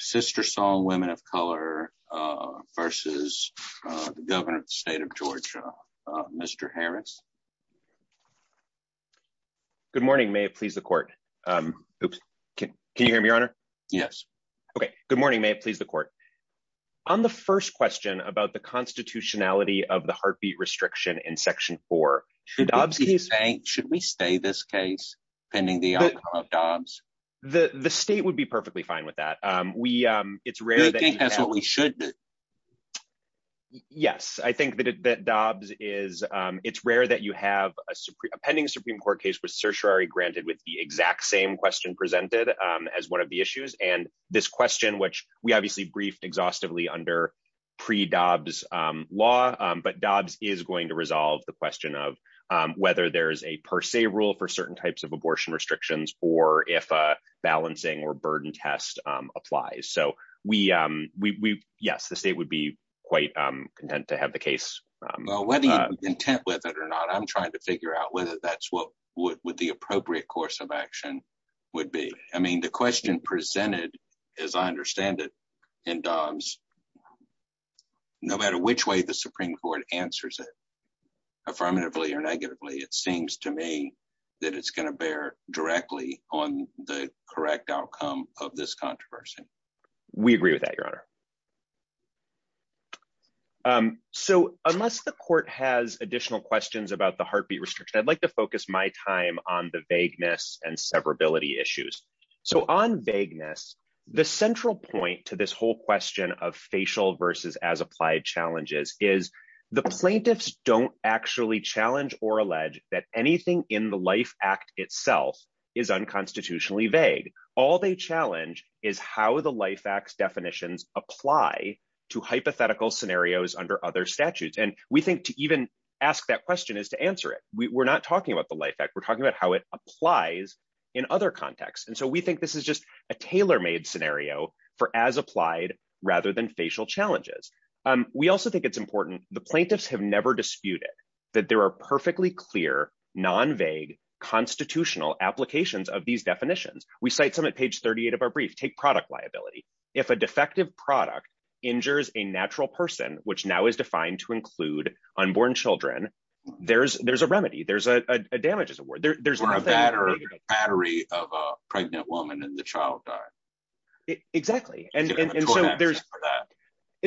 SisterSong Women of Color v. Governor of the State of Georgia, Mr. Harris. Good morning, may it please the court. Oops. Can you hear me, Your Honor? Yes. Okay, good morning, may it please the court. On the first question about the constitutionality of the heartbeat restriction in Section 4. Should we stay this case pending the outcome of Dobbs? The state would be perfectly fine with that. Do you think that's what we should do? Yes, I think that Dobbs is, it's rare that you have a pending Supreme Court case with certiorari granted with the exact same question presented as one of the issues and this question which we obviously briefed exhaustively under pre Dobbs law, but Well, whether you're content with it or not, I'm trying to figure out whether that's what would the appropriate course of action would be. I mean, the question presented, as I understand it, in Dobbs, no matter which way the Supreme Court answers it, affirmatively or negatively, it seems to me that it's going to bear directly on the correct outcome of this controversy. We agree with that, Your Honor. So, unless the court has additional questions about the heartbeat restriction, I'd like to focus my time on the vagueness and severability issues. So on vagueness, the central point to this whole question of facial versus as applied challenges is the plaintiffs don't actually challenge or allege that anything in the Life Act itself is unconstitutionally vague. All they challenge is how the Life Act's definitions apply to hypothetical scenarios under other statutes, and we think to even ask that question is to answer it. We're not talking about the Life Act, we're talking about how it applies in other contexts, and so we think this is just a tailor-made scenario for as applied rather than facial challenges. We also think it's important, the plaintiffs have never disputed that there are perfectly clear, non-vague, constitutional applications of these definitions. We cite some at page 38 of our brief, take product liability. If a defective product injures a natural person, which now is defined to include unborn children, there's a remedy. There's a damages award. Or a battery of a pregnant woman and the child died. Exactly. And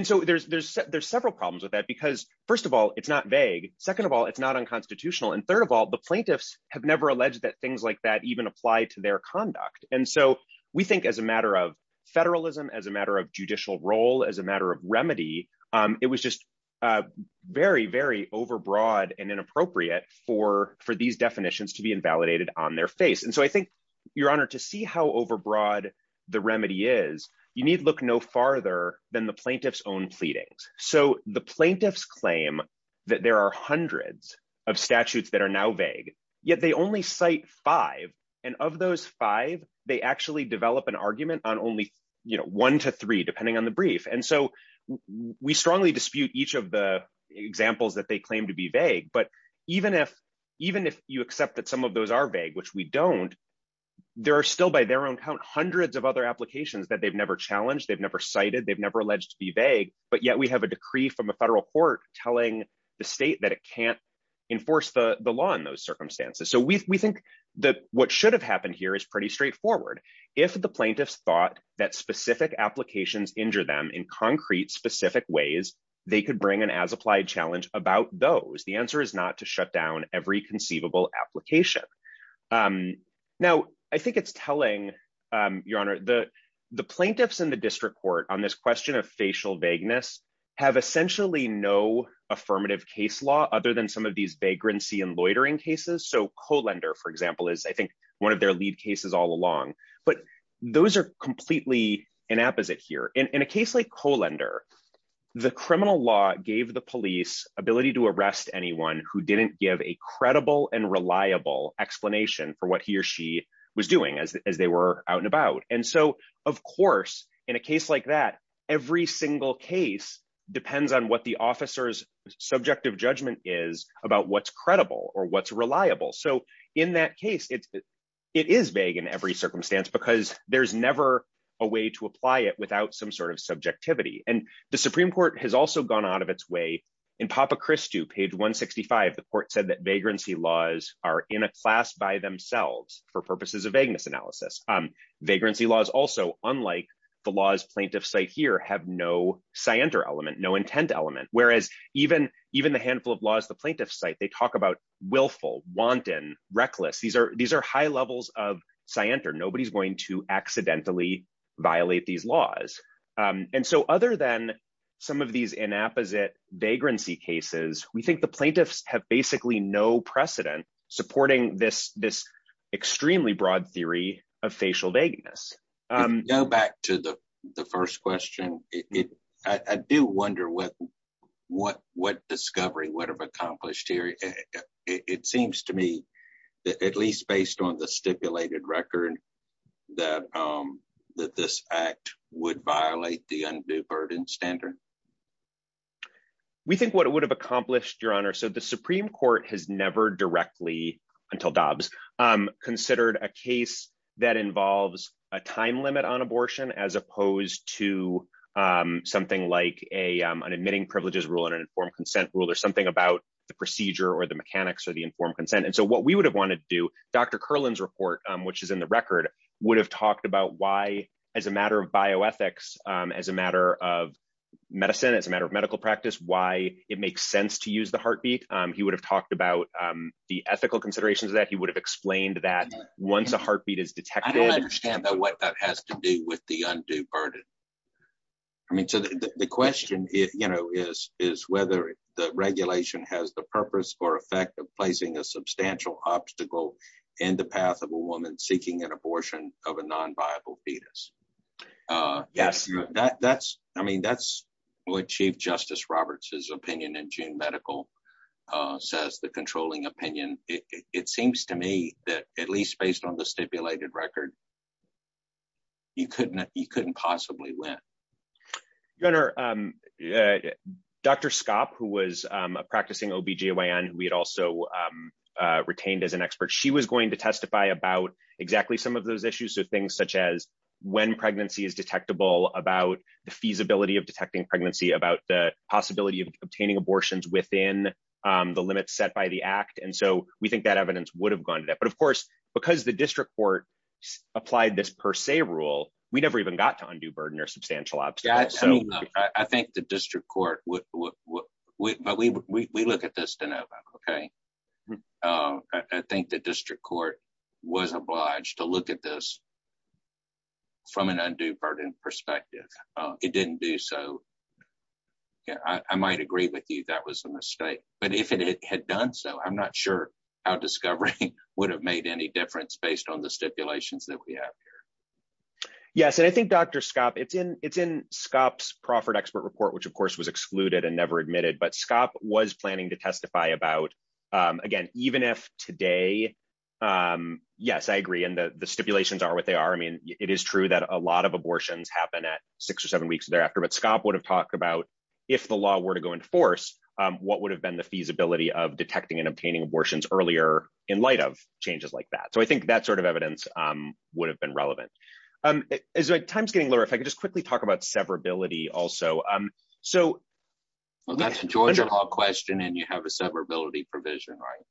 so there's several problems with that because, first of all, it's not vague. Second of all, it's not unconstitutional. And third of all, the plaintiffs have never alleged that things like that even apply to their conduct. And so we think as a matter of federalism, as a matter of judicial role, as a matter of remedy, it was just very, very overbroad and inappropriate for these definitions to be invalidated on their face. And so I think, Your Honor, to see how overbroad the remedy is, you need look no farther than the plaintiffs' own pleadings. So the plaintiffs claim that there are hundreds of statutes that are now vague, yet they only cite five. And of those five, they actually develop an argument on only one to three, depending on the brief. And so we strongly dispute each of the examples that they claim to be vague. But even if you accept that some of those are vague, which we don't, there are still, by their own count, hundreds of other applications that they've never challenged, they've never cited, they've never alleged to be vague. But yet we have a decree from a federal court telling the state that it can't enforce the law in those circumstances. So we think that what should have happened here is pretty straightforward. If the plaintiffs thought that specific applications injure them in concrete, specific ways, they could bring an as-applied challenge about those. The answer is not to shut down every conceivable application. Now, I think it's telling, Your Honor, the plaintiffs in the district court on this question of facial vagueness have essentially no affirmative case law other than some of these vagrancy and loitering cases. So Colander, for example, is, I think, one of their lead cases all along. But those are completely inapposite here. In a case like Colander, the criminal law gave the police ability to arrest anyone who didn't give a credible and reliable explanation for what he or she was doing as they were out and about. And so, of course, in a case like that, every single case depends on what the officer's subjective judgment is about what's credible or what's reliable. So in that case, it is vague in every circumstance because there's never a way to apply it without some sort of subjectivity. And the Supreme Court has also gone out of its way. In Papa Christu, page 165, the court said that vagrancy laws are in a class by themselves for purposes of vagueness analysis. Vagrancy laws also, unlike the law's plaintiff's site here, have no scienter element, no intent element, whereas even the handful of laws the plaintiff's site, they talk about willful, wanton, reckless. These are high levels of scienter. Nobody's going to accidentally violate these laws. And so other than some of these inapposite vagrancy cases, we think the plaintiffs have basically no precedent supporting this extremely broad theory of facial vagueness. Go back to the first question. I do wonder what discovery would have accomplished here. It seems to me, at least based on the stipulated record, that this act would violate the undue burden standard. We think what it would have accomplished, Your Honor. So the Supreme Court has never directly, until Dobbs, considered a case that involves a time limit on abortion as opposed to something like an admitting privileges rule and an informed consent rule or something about the procedure or the mechanics or the informed consent. And so what we would have wanted to do, Dr. Curlin's report, which is in the record, would have talked about why, as a matter of bioethics, as a matter of medicine, as a matter of medical practice, why it makes sense to use the heartbeat. He would have talked about the ethical considerations of that. He would have explained that once a heartbeat is detected. I don't understand what that has to do with the undue burden. I mean, the question is, you know, is, is whether the regulation has the purpose or effect of placing a substantial obstacle in the path of a woman seeking an abortion of a non viable fetus. Yes, that's, I mean that's what Chief Justice Roberts's opinion in June medical says the controlling opinion, it seems to me that at least based on the stipulated record. You couldn't, you couldn't possibly win. Your Honor. Dr. Scott, who was practicing OBGYN, we had also retained as an expert she was going to testify about exactly some of those issues so things such as when pregnancy is detectable about the feasibility of detecting pregnancy about the possibility of obtaining I think the district court. We look at this to know about. Okay. I think the district court was obliged to look at this from an undue burden perspective, it didn't do so. I might agree with you that was a mistake, but if it had done so I'm not sure how discovery would have made any difference based on the stipulations that we have here. Yes, and I think Dr Scott it's in, it's in Scott's Crawford expert report which of course was excluded and never admitted but Scott was planning to testify about. Again, even if today. Yes, I agree and the stipulations are what they are I mean, it is true that a lot of abortions happen at six or seven weeks thereafter but Scott would have talked about if the law were to go into force. What would have been the feasibility of detecting and obtaining abortions earlier, in light of changes like that so I think that sort of evidence would have been relevant is like times getting lower if I could just quickly talk about severability also. So, that's a Georgia question and you have a severability provision right.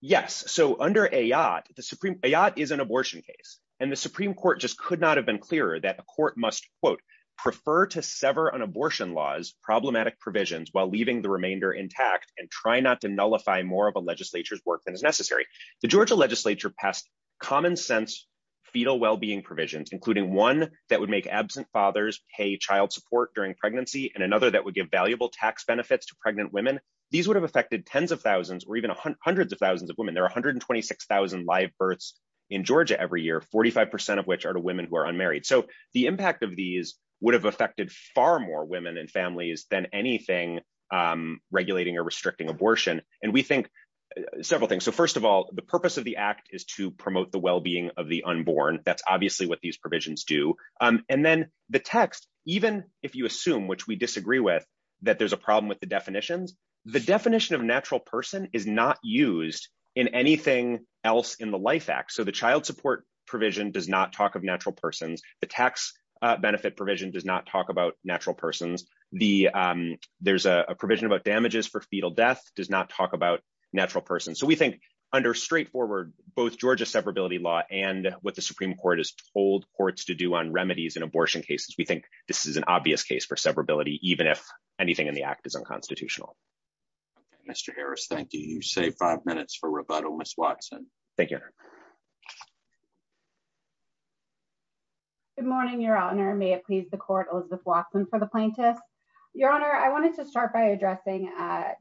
Yes, so under a yacht, the Supreme Court is an abortion case, and the Supreme Court just could not have been clearer that the court must quote prefer to sever on abortion laws problematic provisions while leaving the remainder intact and try not to nullify more of a legislature's work than is necessary. The Georgia legislature passed common sense fetal well being provisions, including one that would make absent fathers pay child support during pregnancy and another that would give valuable tax benefits to pregnant women. These would have affected 10s of thousands or even hundreds of thousands of women there 126,000 live births in Georgia every year 45% of which are two women who are unmarried so the impact of these would have affected far more women and families than anything, regulating or restricting abortion, and we think several things so first of all, the purpose of the act is to promote the well being of the unborn, that's obviously what these provisions do. And then the text, even if you assume which we disagree with that there's a problem with the definitions, the definition of natural person is not used in anything else in the life act so the child support provision does not talk of natural persons, the tax benefit provision does not talk about natural persons, the, there's a provision about damages for fetal death does not talk about natural person so we think under straightforward, both Georgia severability law and what the Supreme Court is told courts to do on remedies and abortion cases we think this is an obvious case for severability, even if anything in the act is unconstitutional. Mr. Harris Thank you you say five minutes for rebuttal Miss Watson. Thank you. Good morning, Your Honor, may it please the court Elizabeth Watson for the plaintiffs, Your Honor, I wanted to start by addressing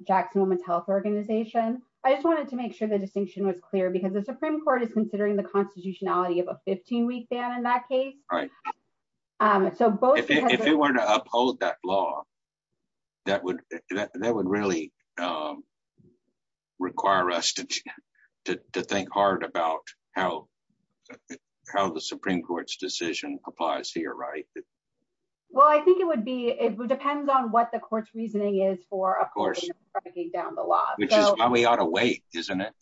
Jackson women's health organization. I just wanted to make sure the distinction was clear because the Supreme Court is considering the constitutionality of a 15 week ban in that case. So if you were to uphold that law. That would, that would really require us to think hard about how, how the Supreme Court's decision applies here right. Well I think it would be, it depends on what the court's reasoning is for of course, breaking down the law, we ought to wait, isn't it.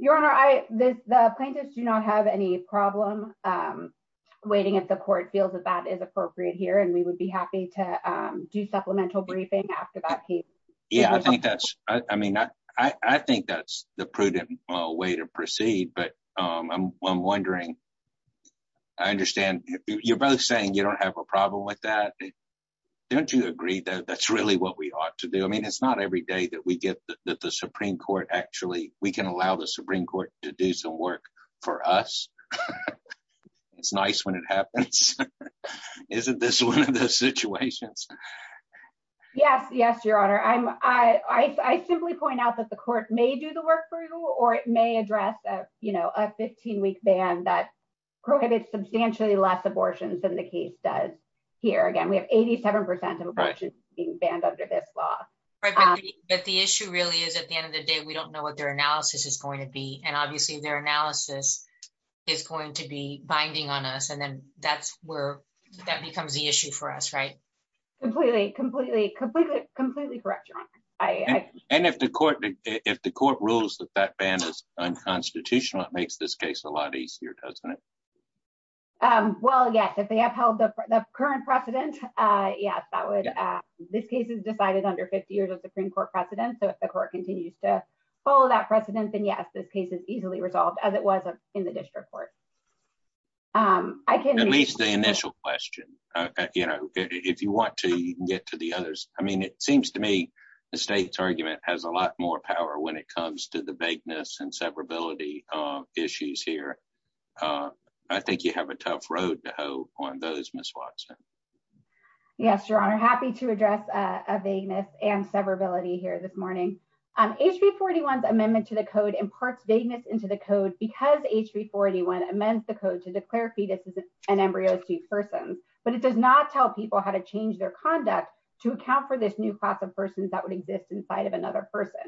Your Honor, I, the plaintiffs do not have any problem waiting at the court feels that that is appropriate here and we would be happy to do supplemental briefing after that case. Yeah, I think that's, I mean, I think that's the prudent way to proceed but I'm wondering, I understand, you're both saying you don't have a problem with that. Don't you agree that that's really what we ought to do I mean it's not every day that we get the Supreme Court actually, we can allow the Supreme Court to do some work for us. It's nice when it happens. Isn't this one of those situations. Yes, yes, Your Honor, I'm, I simply point out that the court may do the work for you, or it may address that, you know, a 15 week ban that prohibits substantially less abortions than the case does here again we have 87% of being banned under this law. But the issue really is at the end of the day we don't know what their analysis is going to be and obviously their analysis is going to be binding on us and then that's where that becomes the issue for us right. Completely, completely, completely, completely correct. And if the court, if the court rules that that ban is unconstitutional it makes this case a lot easier doesn't it. Well, yes, if they have held the current precedent. Yes, that would. This case is decided under 50 years of the Supreme Court precedent so if the court continues to follow that precedent then yes this case is easily resolved as it was in the district court. I can at least the initial question. You know, if you want to get to the others, I mean it seems to me, the state's argument has a lot more power when it comes to the vagueness and severability issues here. I think you have a tough road to hoe on those Miss Watson. Yes, Your Honor, happy to address a vagueness and severability here this morning. HB 41 amendment to the code imparts vagueness into the code because HB 41 amends the code to declare fetuses and embryos to persons, but it does not tell people how to change their conduct to account for this new class of persons that would exist inside of another person.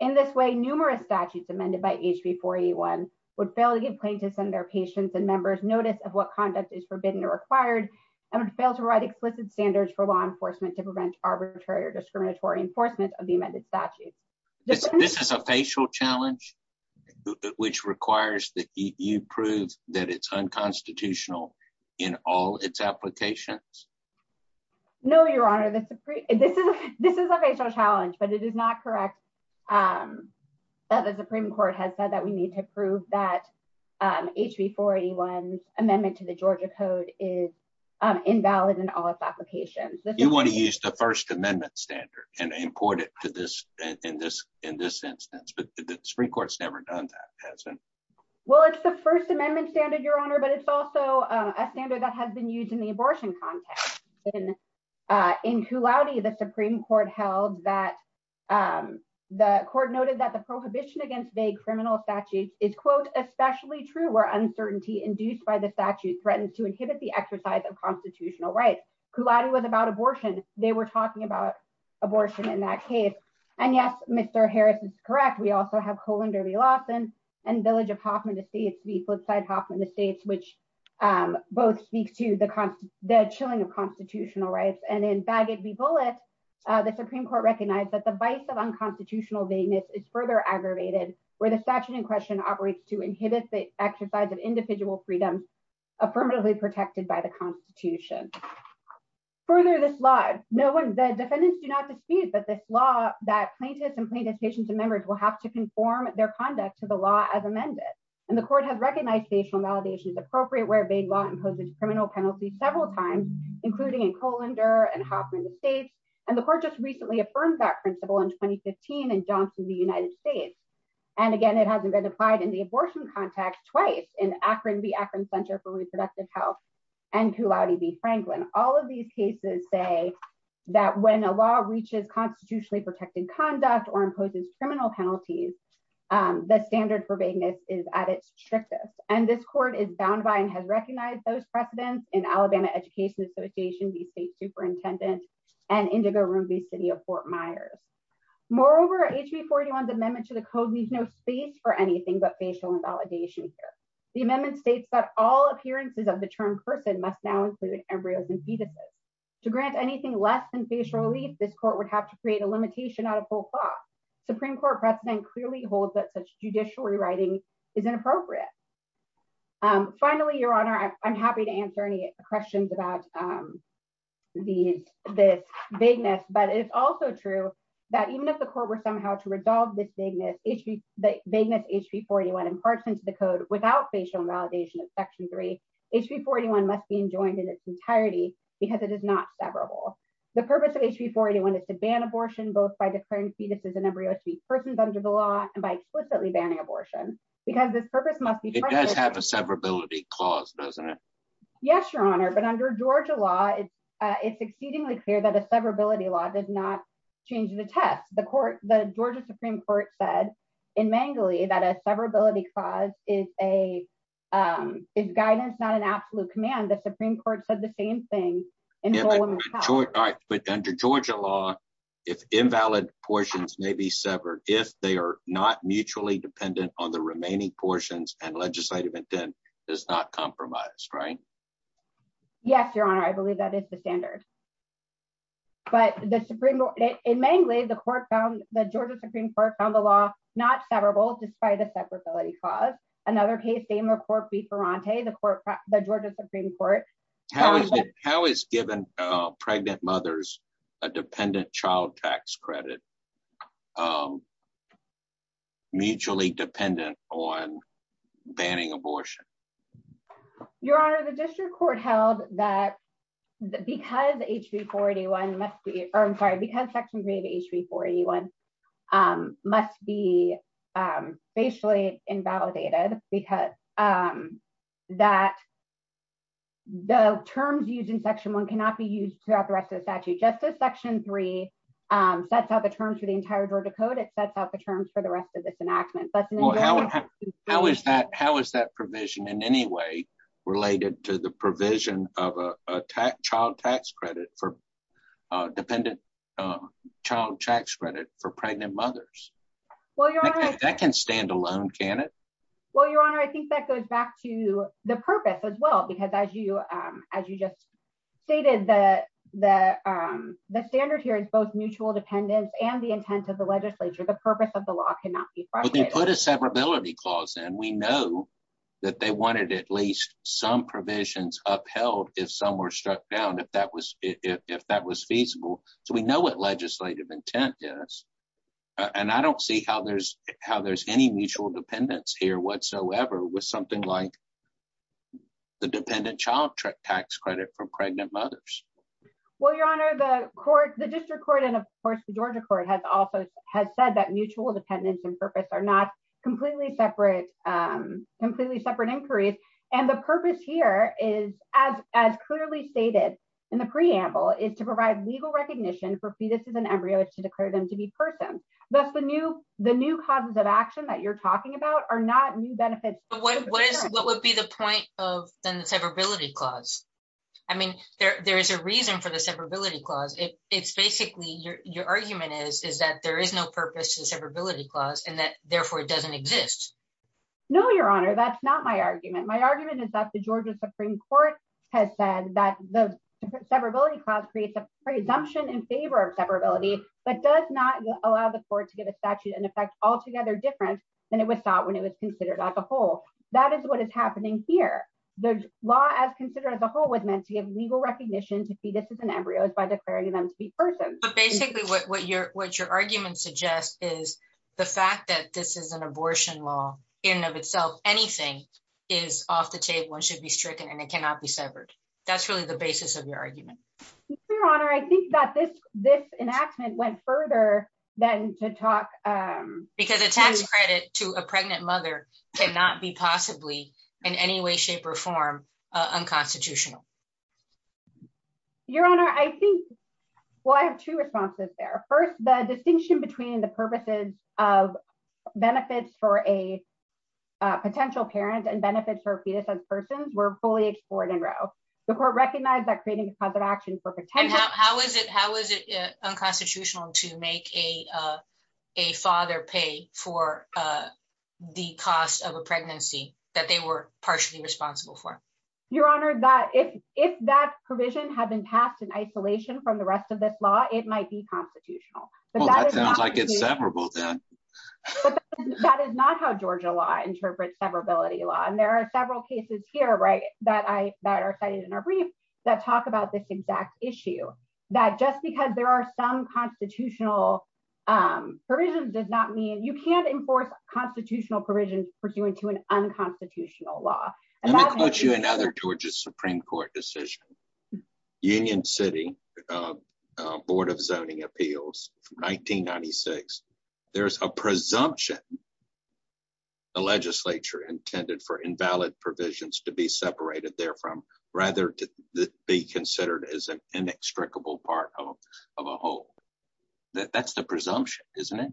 In this way, numerous statutes amended by HB 41 would fail to give plaintiffs and their patients and members notice of what conduct is forbidden or required, and would fail to write explicit standards for law enforcement to prevent arbitrary or discriminatory enforcement of the amended statute. This is a facial challenge, which requires that you prove that it's unconstitutional in all its applications. No, Your Honor, this is a facial challenge, but it is not correct that the Supreme Court has said that we need to prove that HB 41 amendment to the Georgia Code is invalid in all its applications. You want to use the First Amendment standard and import it to this, in this instance, but the Supreme Court's never done that, has it? Well, it's the First Amendment standard, Your Honor, but it's also a standard that has been used in the abortion context. In Cu Laude, the Supreme Court held that, the court noted that the prohibition against vague criminal statutes is, quote, especially true where uncertainty induced by the statute threatens to inhibit the exercise of constitutional rights. Cu Laude was about abortion. They were talking about abortion in that case. And yes, Mr. Harris is correct. We also have Kohlander v. Lawson and Village of Hoffman v. Flipside-Hoffman v. States, which both speak to the chilling of constitutional rights. And in Bagot v. Bullitt, the Supreme Court recognized that the vice of unconstitutional vagueness is further aggravated where the statute in question operates to inhibit the exercise of individual freedoms affirmatively protected by the Constitution. Further, this law, no one, the defendants do not dispute that this law, that plaintiffs and plaintiff's patients and members will have to conform their conduct to the law as amended. And the court has recognized facial validation is appropriate where vague law imposes criminal penalties several times, including in Kohlander and Hoffman v. States, and the court just recently affirmed that principle in 2015 in Johnson v. United States. And again, it hasn't been applied in the abortion context twice in Akron v. Akron Center for Reproductive Health and Cu Laude v. Franklin. All of these cases say that when a law reaches constitutionally protected conduct or imposes criminal penalties, the standard for vagueness is at its strictest. And this court is bound by and has recognized those precedents in Alabama Education Association v. State Superintendent and Indigo Room v. City of Fort Myers. Moreover, HB 41's amendment to the code leaves no space for anything but facial invalidation here. The amendment states that all appearances of the term person must now include embryos and fetuses. To grant anything less than facial relief, this court would have to create a limitation out of full clause. Supreme Court precedent clearly holds that such judiciary writing is inappropriate. Finally, Your Honor, I'm happy to answer any questions about this vagueness, but it's also true that even if the court were somehow to resolve this vagueness, HB 41 imparts into the code without facial invalidation of Section 3, HB 41 must be enjoined in its entirety because it is not severable. The purpose of HB 41 is to ban abortion, both by declaring fetuses and embryos to be persons under the law, and by explicitly banning abortion. Because this purpose must be... It does have a severability clause, doesn't it? Yes, Your Honor, but under Georgia law, it's exceedingly clear that a severability law did not change the test. The Georgia Supreme Court said in Mangley that a severability clause is guidance, not an absolute command. The Supreme Court said the same thing. But under Georgia law, if invalid portions may be severed, if they are not mutually dependent on the remaining portions and legislative intent, it's not compromised, right? Yes, Your Honor, I believe that is the standard. But in Mangley, the Georgia Supreme Court found the law not severable despite the severability clause. Another case, Damer Court v. Ferrante, the Georgia Supreme Court... How is giving pregnant mothers a dependent child tax credit mutually dependent on banning abortion? Your Honor, the district court held that because Section 3 of HB 41 must be facially invalidated because the terms used in Section 1 cannot be used throughout the rest of the statute. Just as Section 3 sets out the terms for the entire Georgia Code, it sets out the terms for the rest of this enactment. How is that provision in any way related to the provision of a child tax credit for dependent child tax credit for pregnant mothers? That can stand alone, can it? Well, Your Honor, I think that goes back to the purpose as well, because as you just stated, the standard here is both mutual dependence and the intent of the legislature. The purpose of the law cannot be frustrated. But they put a severability clause in. We know that they wanted at least some provisions upheld if some were struck down, if that was feasible. So we know what legislative intent is. And I don't see how there's any mutual dependence here whatsoever with something like the dependent child tax credit for pregnant mothers. Well, Your Honor, the district court and, of course, the Georgia court has also said that mutual dependence and purpose are not completely separate inquiries. And the purpose here is, as clearly stated in the preamble, is to provide legal recognition for fetuses and embryos to declare them to be persons. Thus, the new causes of action that you're talking about are not new benefits. What would be the point of the severability clause? I mean, there is a reason for the severability clause. It's basically, your argument is, is that there is no purpose to the severability clause and that, therefore, it doesn't exist. No, Your Honor, that's not my argument. My argument is that the Georgia Supreme Court has said that the severability clause creates a presumption in favor of severability, but does not allow the court to give a statute in effect altogether different than it was thought when it was considered as a whole. That is what is happening here. The law as considered as a whole was meant to give legal recognition to fetuses and embryos by declaring them to be persons. But basically, what your argument suggests is the fact that this is an abortion law in and of itself, anything is off the table and should be stricken and it cannot be severed. That's really the basis of your argument. Your Honor, I think that this enactment went further than to talk... Because a tax credit to a pregnant mother cannot be possibly in any way, shape or form unconstitutional. Your Honor, I think, well, I have two responses there. First, the distinction between the purposes of benefits for a potential parent and benefits for a fetus as persons were fully explored in Roe. The court recognized that creating a cause of action for potential... How is it unconstitutional to make a father pay for the cost of a pregnancy that they were partially responsible for? Your Honor, if that provision had been passed in isolation from the rest of this law, it might be constitutional. Well, that sounds like it's severable then. That is not how Georgia law interprets severability law. And there are several cases here that are cited in our brief that talk about this exact issue. That just because there are some constitutional provisions does not mean... You can't enforce constitutional provisions pursuant to an unconstitutional law. Let me quote you another Georgia Supreme Court decision. Union City Board of Zoning Appeals, 1996. There's a presumption the legislature intended for invalid provisions to be separated there from rather to be considered as an inextricable part of a whole. That's the presumption, isn't it?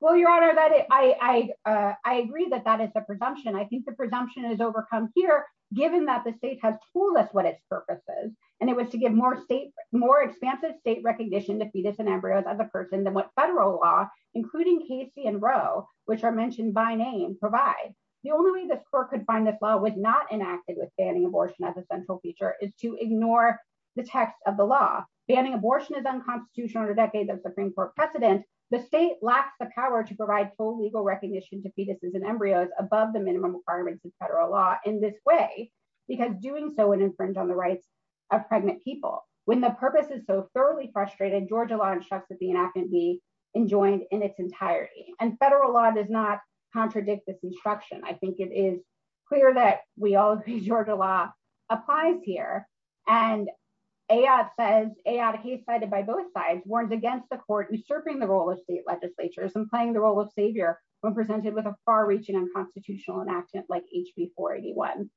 Well, Your Honor, I agree that that is the presumption. I think the presumption is overcome here, given that the state has told us what its purpose is. And it was to give more expansive state recognition to fetuses and embryos as a person than what federal law, including Casey and Roe, which are mentioned by name, provides. The only way the court could find this law was not enacted with banning abortion as a central feature is to ignore the text of the law. Banning abortion is unconstitutional under decades of Supreme Court precedent. The state lacks the power to provide full legal recognition to fetuses and embryos above the minimum requirements of federal law in this way. Because doing so would infringe on the rights of pregnant people. When the purpose is so thoroughly frustrated, Georgia law instructs that the enactment be enjoined in its entirety. And federal law does not contradict this instruction. I think it is clear that we all agree Georgia law applies here. And AOT says, AOT, a case cited by both sides, warns against the court usurping the role of state legislatures and playing the role of savior when presented with a far-reaching unconstitutional enactment like HB 481.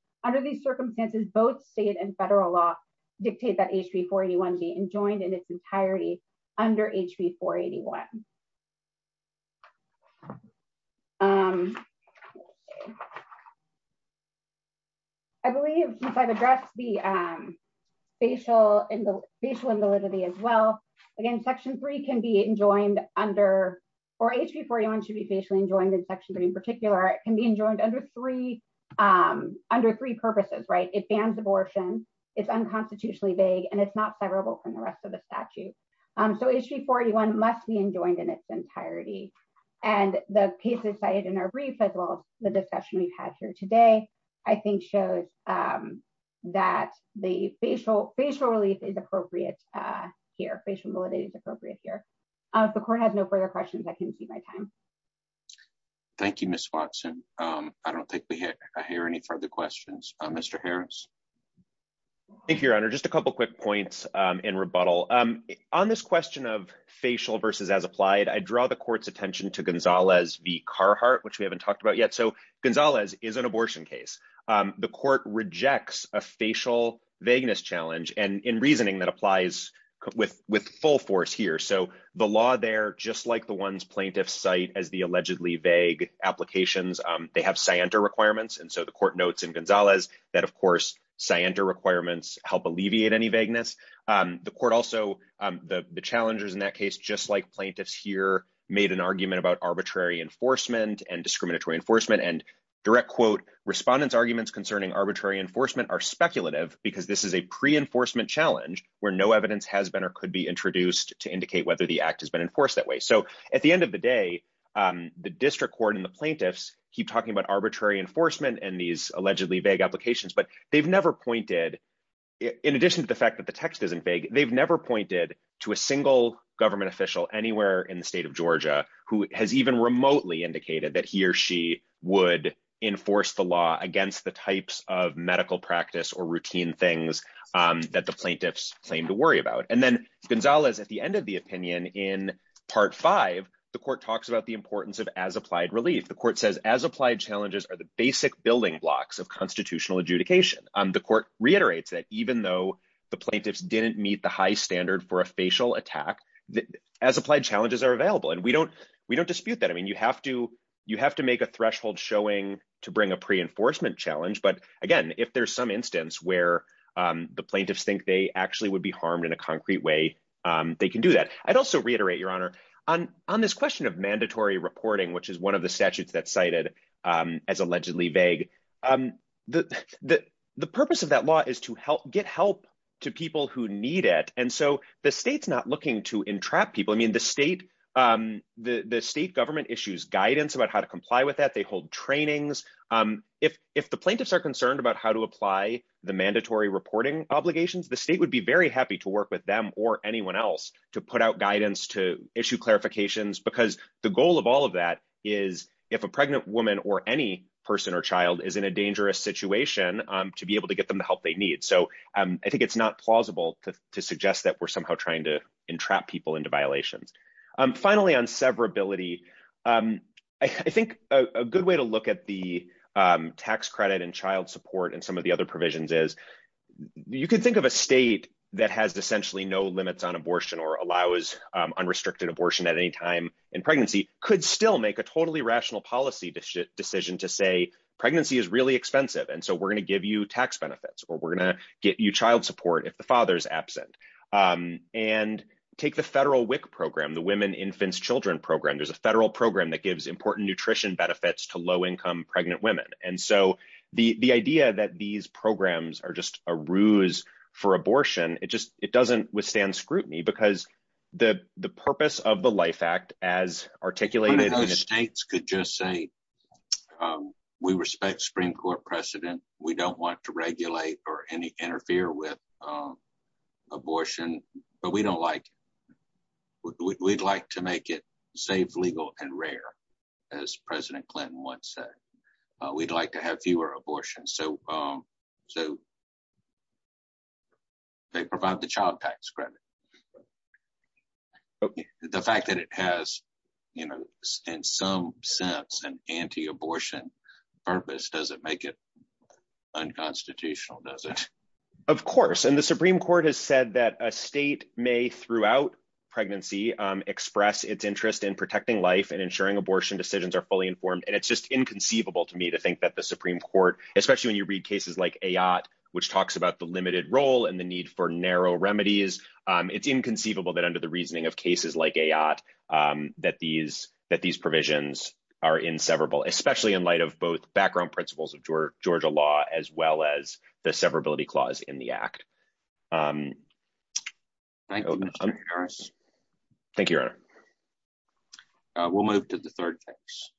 I believe, since I've addressed the facial invalidity as well, again, section 3 can be enjoined under, or HB 481 should be facially enjoined in section 3 in particular, it can be enjoined under three purposes, right? It's unconstitutionally vague and it's not severable from the rest of the statute. So HB 481 must be enjoined in its entirety. And the cases cited in our brief, as well as the discussion we've had here today, I think shows that the facial relief is appropriate here. Facial invalidity is appropriate here. If the court has no further questions, I can exceed my time. Thank you, Ms. Watson. I don't think we hear any further questions. Mr. Harris. Thank you, Your Honor. Just a couple quick points in rebuttal. On this question of facial versus as applied, I draw the court's attention to Gonzalez v. Carhartt, which we haven't talked about yet. So Gonzalez is an abortion case. The court rejects a facial vagueness challenge and in reasoning that applies with full force here. So the law there, just like the ones plaintiffs cite as the allegedly vague applications, they have scienter requirements. And so the court notes in Gonzalez that, of course, scienter requirements help alleviate any vagueness. The court also, the challengers in that case, just like plaintiffs here, made an argument about arbitrary enforcement and discriminatory enforcement. And direct quote, respondents' arguments concerning arbitrary enforcement are speculative because this is a pre-enforcement challenge where no evidence has been or could be introduced to indicate whether the act has been enforced that way. So at the end of the day, the district court and the plaintiffs keep talking about arbitrary enforcement and these allegedly vague applications. But they've never pointed, in addition to the fact that the text isn't vague, they've never pointed to a single government official anywhere in the state of Georgia who has even remotely indicated that he or she would enforce the law against the types of medical practice or routine things that the plaintiffs claim to worry about. And then Gonzalez, at the end of the opinion in part five, the court talks about the importance of as-applied relief. The court says as-applied challenges are the basic building blocks of constitutional adjudication. The court reiterates that even though the plaintiffs didn't meet the high standard for a facial attack, as-applied challenges are available. And we don't dispute that. I mean, you have to make a threshold showing to bring a pre-enforcement challenge. But again, if there's some instance where the plaintiffs think they actually would be harmed in a concrete way, they can do that. I'd also reiterate, Your Honor, on this question of mandatory reporting, which is one of the statutes that's cited as allegedly vague. The purpose of that law is to get help to people who need it. And so the state's not looking to entrap people. I mean, the state government issues guidance about how to comply with that. They hold trainings. If the plaintiffs are concerned about how to apply the mandatory reporting obligations, the state would be very happy to work with them or anyone else to put out guidance, to issue clarifications. Because the goal of all of that is if a pregnant woman or any person or child is in a dangerous situation, to be able to get them the help they need. So I think it's not plausible to suggest that we're somehow trying to entrap people into violations. Finally, on severability, I think a good way to look at the tax credit and child support and some of the other provisions is, you can think of a state that has essentially no limits on abortion or allows unrestricted abortion at any time in pregnancy, could still make a totally rational policy decision to say, pregnancy is really expensive and so we're going to give you tax benefits or we're going to get you child support if the father's absent. And take the federal WIC program, the Women, Infants, Children program. There's a federal program that gives important nutrition benefits to low-income pregnant women. And so the idea that these programs are just a ruse for abortion, it doesn't withstand scrutiny because the purpose of the LIFE Act as articulated... So, they provide the child tax credit. The fact that it has, in some sense, an anti-abortion purpose doesn't make it unconstitutional, does it? Of course. And the Supreme Court has said that a state may, throughout pregnancy, express its interest in protecting life and ensuring abortion decisions are fully informed. And it's just inconceivable to me to think that the Supreme Court, especially when you read cases like Ayotte, which talks about the limited role and the need for narrow remedies, it's inconceivable that under the reasoning of cases like Ayotte, that these provisions are inseverable, especially in light of both background principles of Georgia law as well as the severability clause in the Act. Thank you, Mr. Harris. Thank you, Your Honor. We'll move to the third case.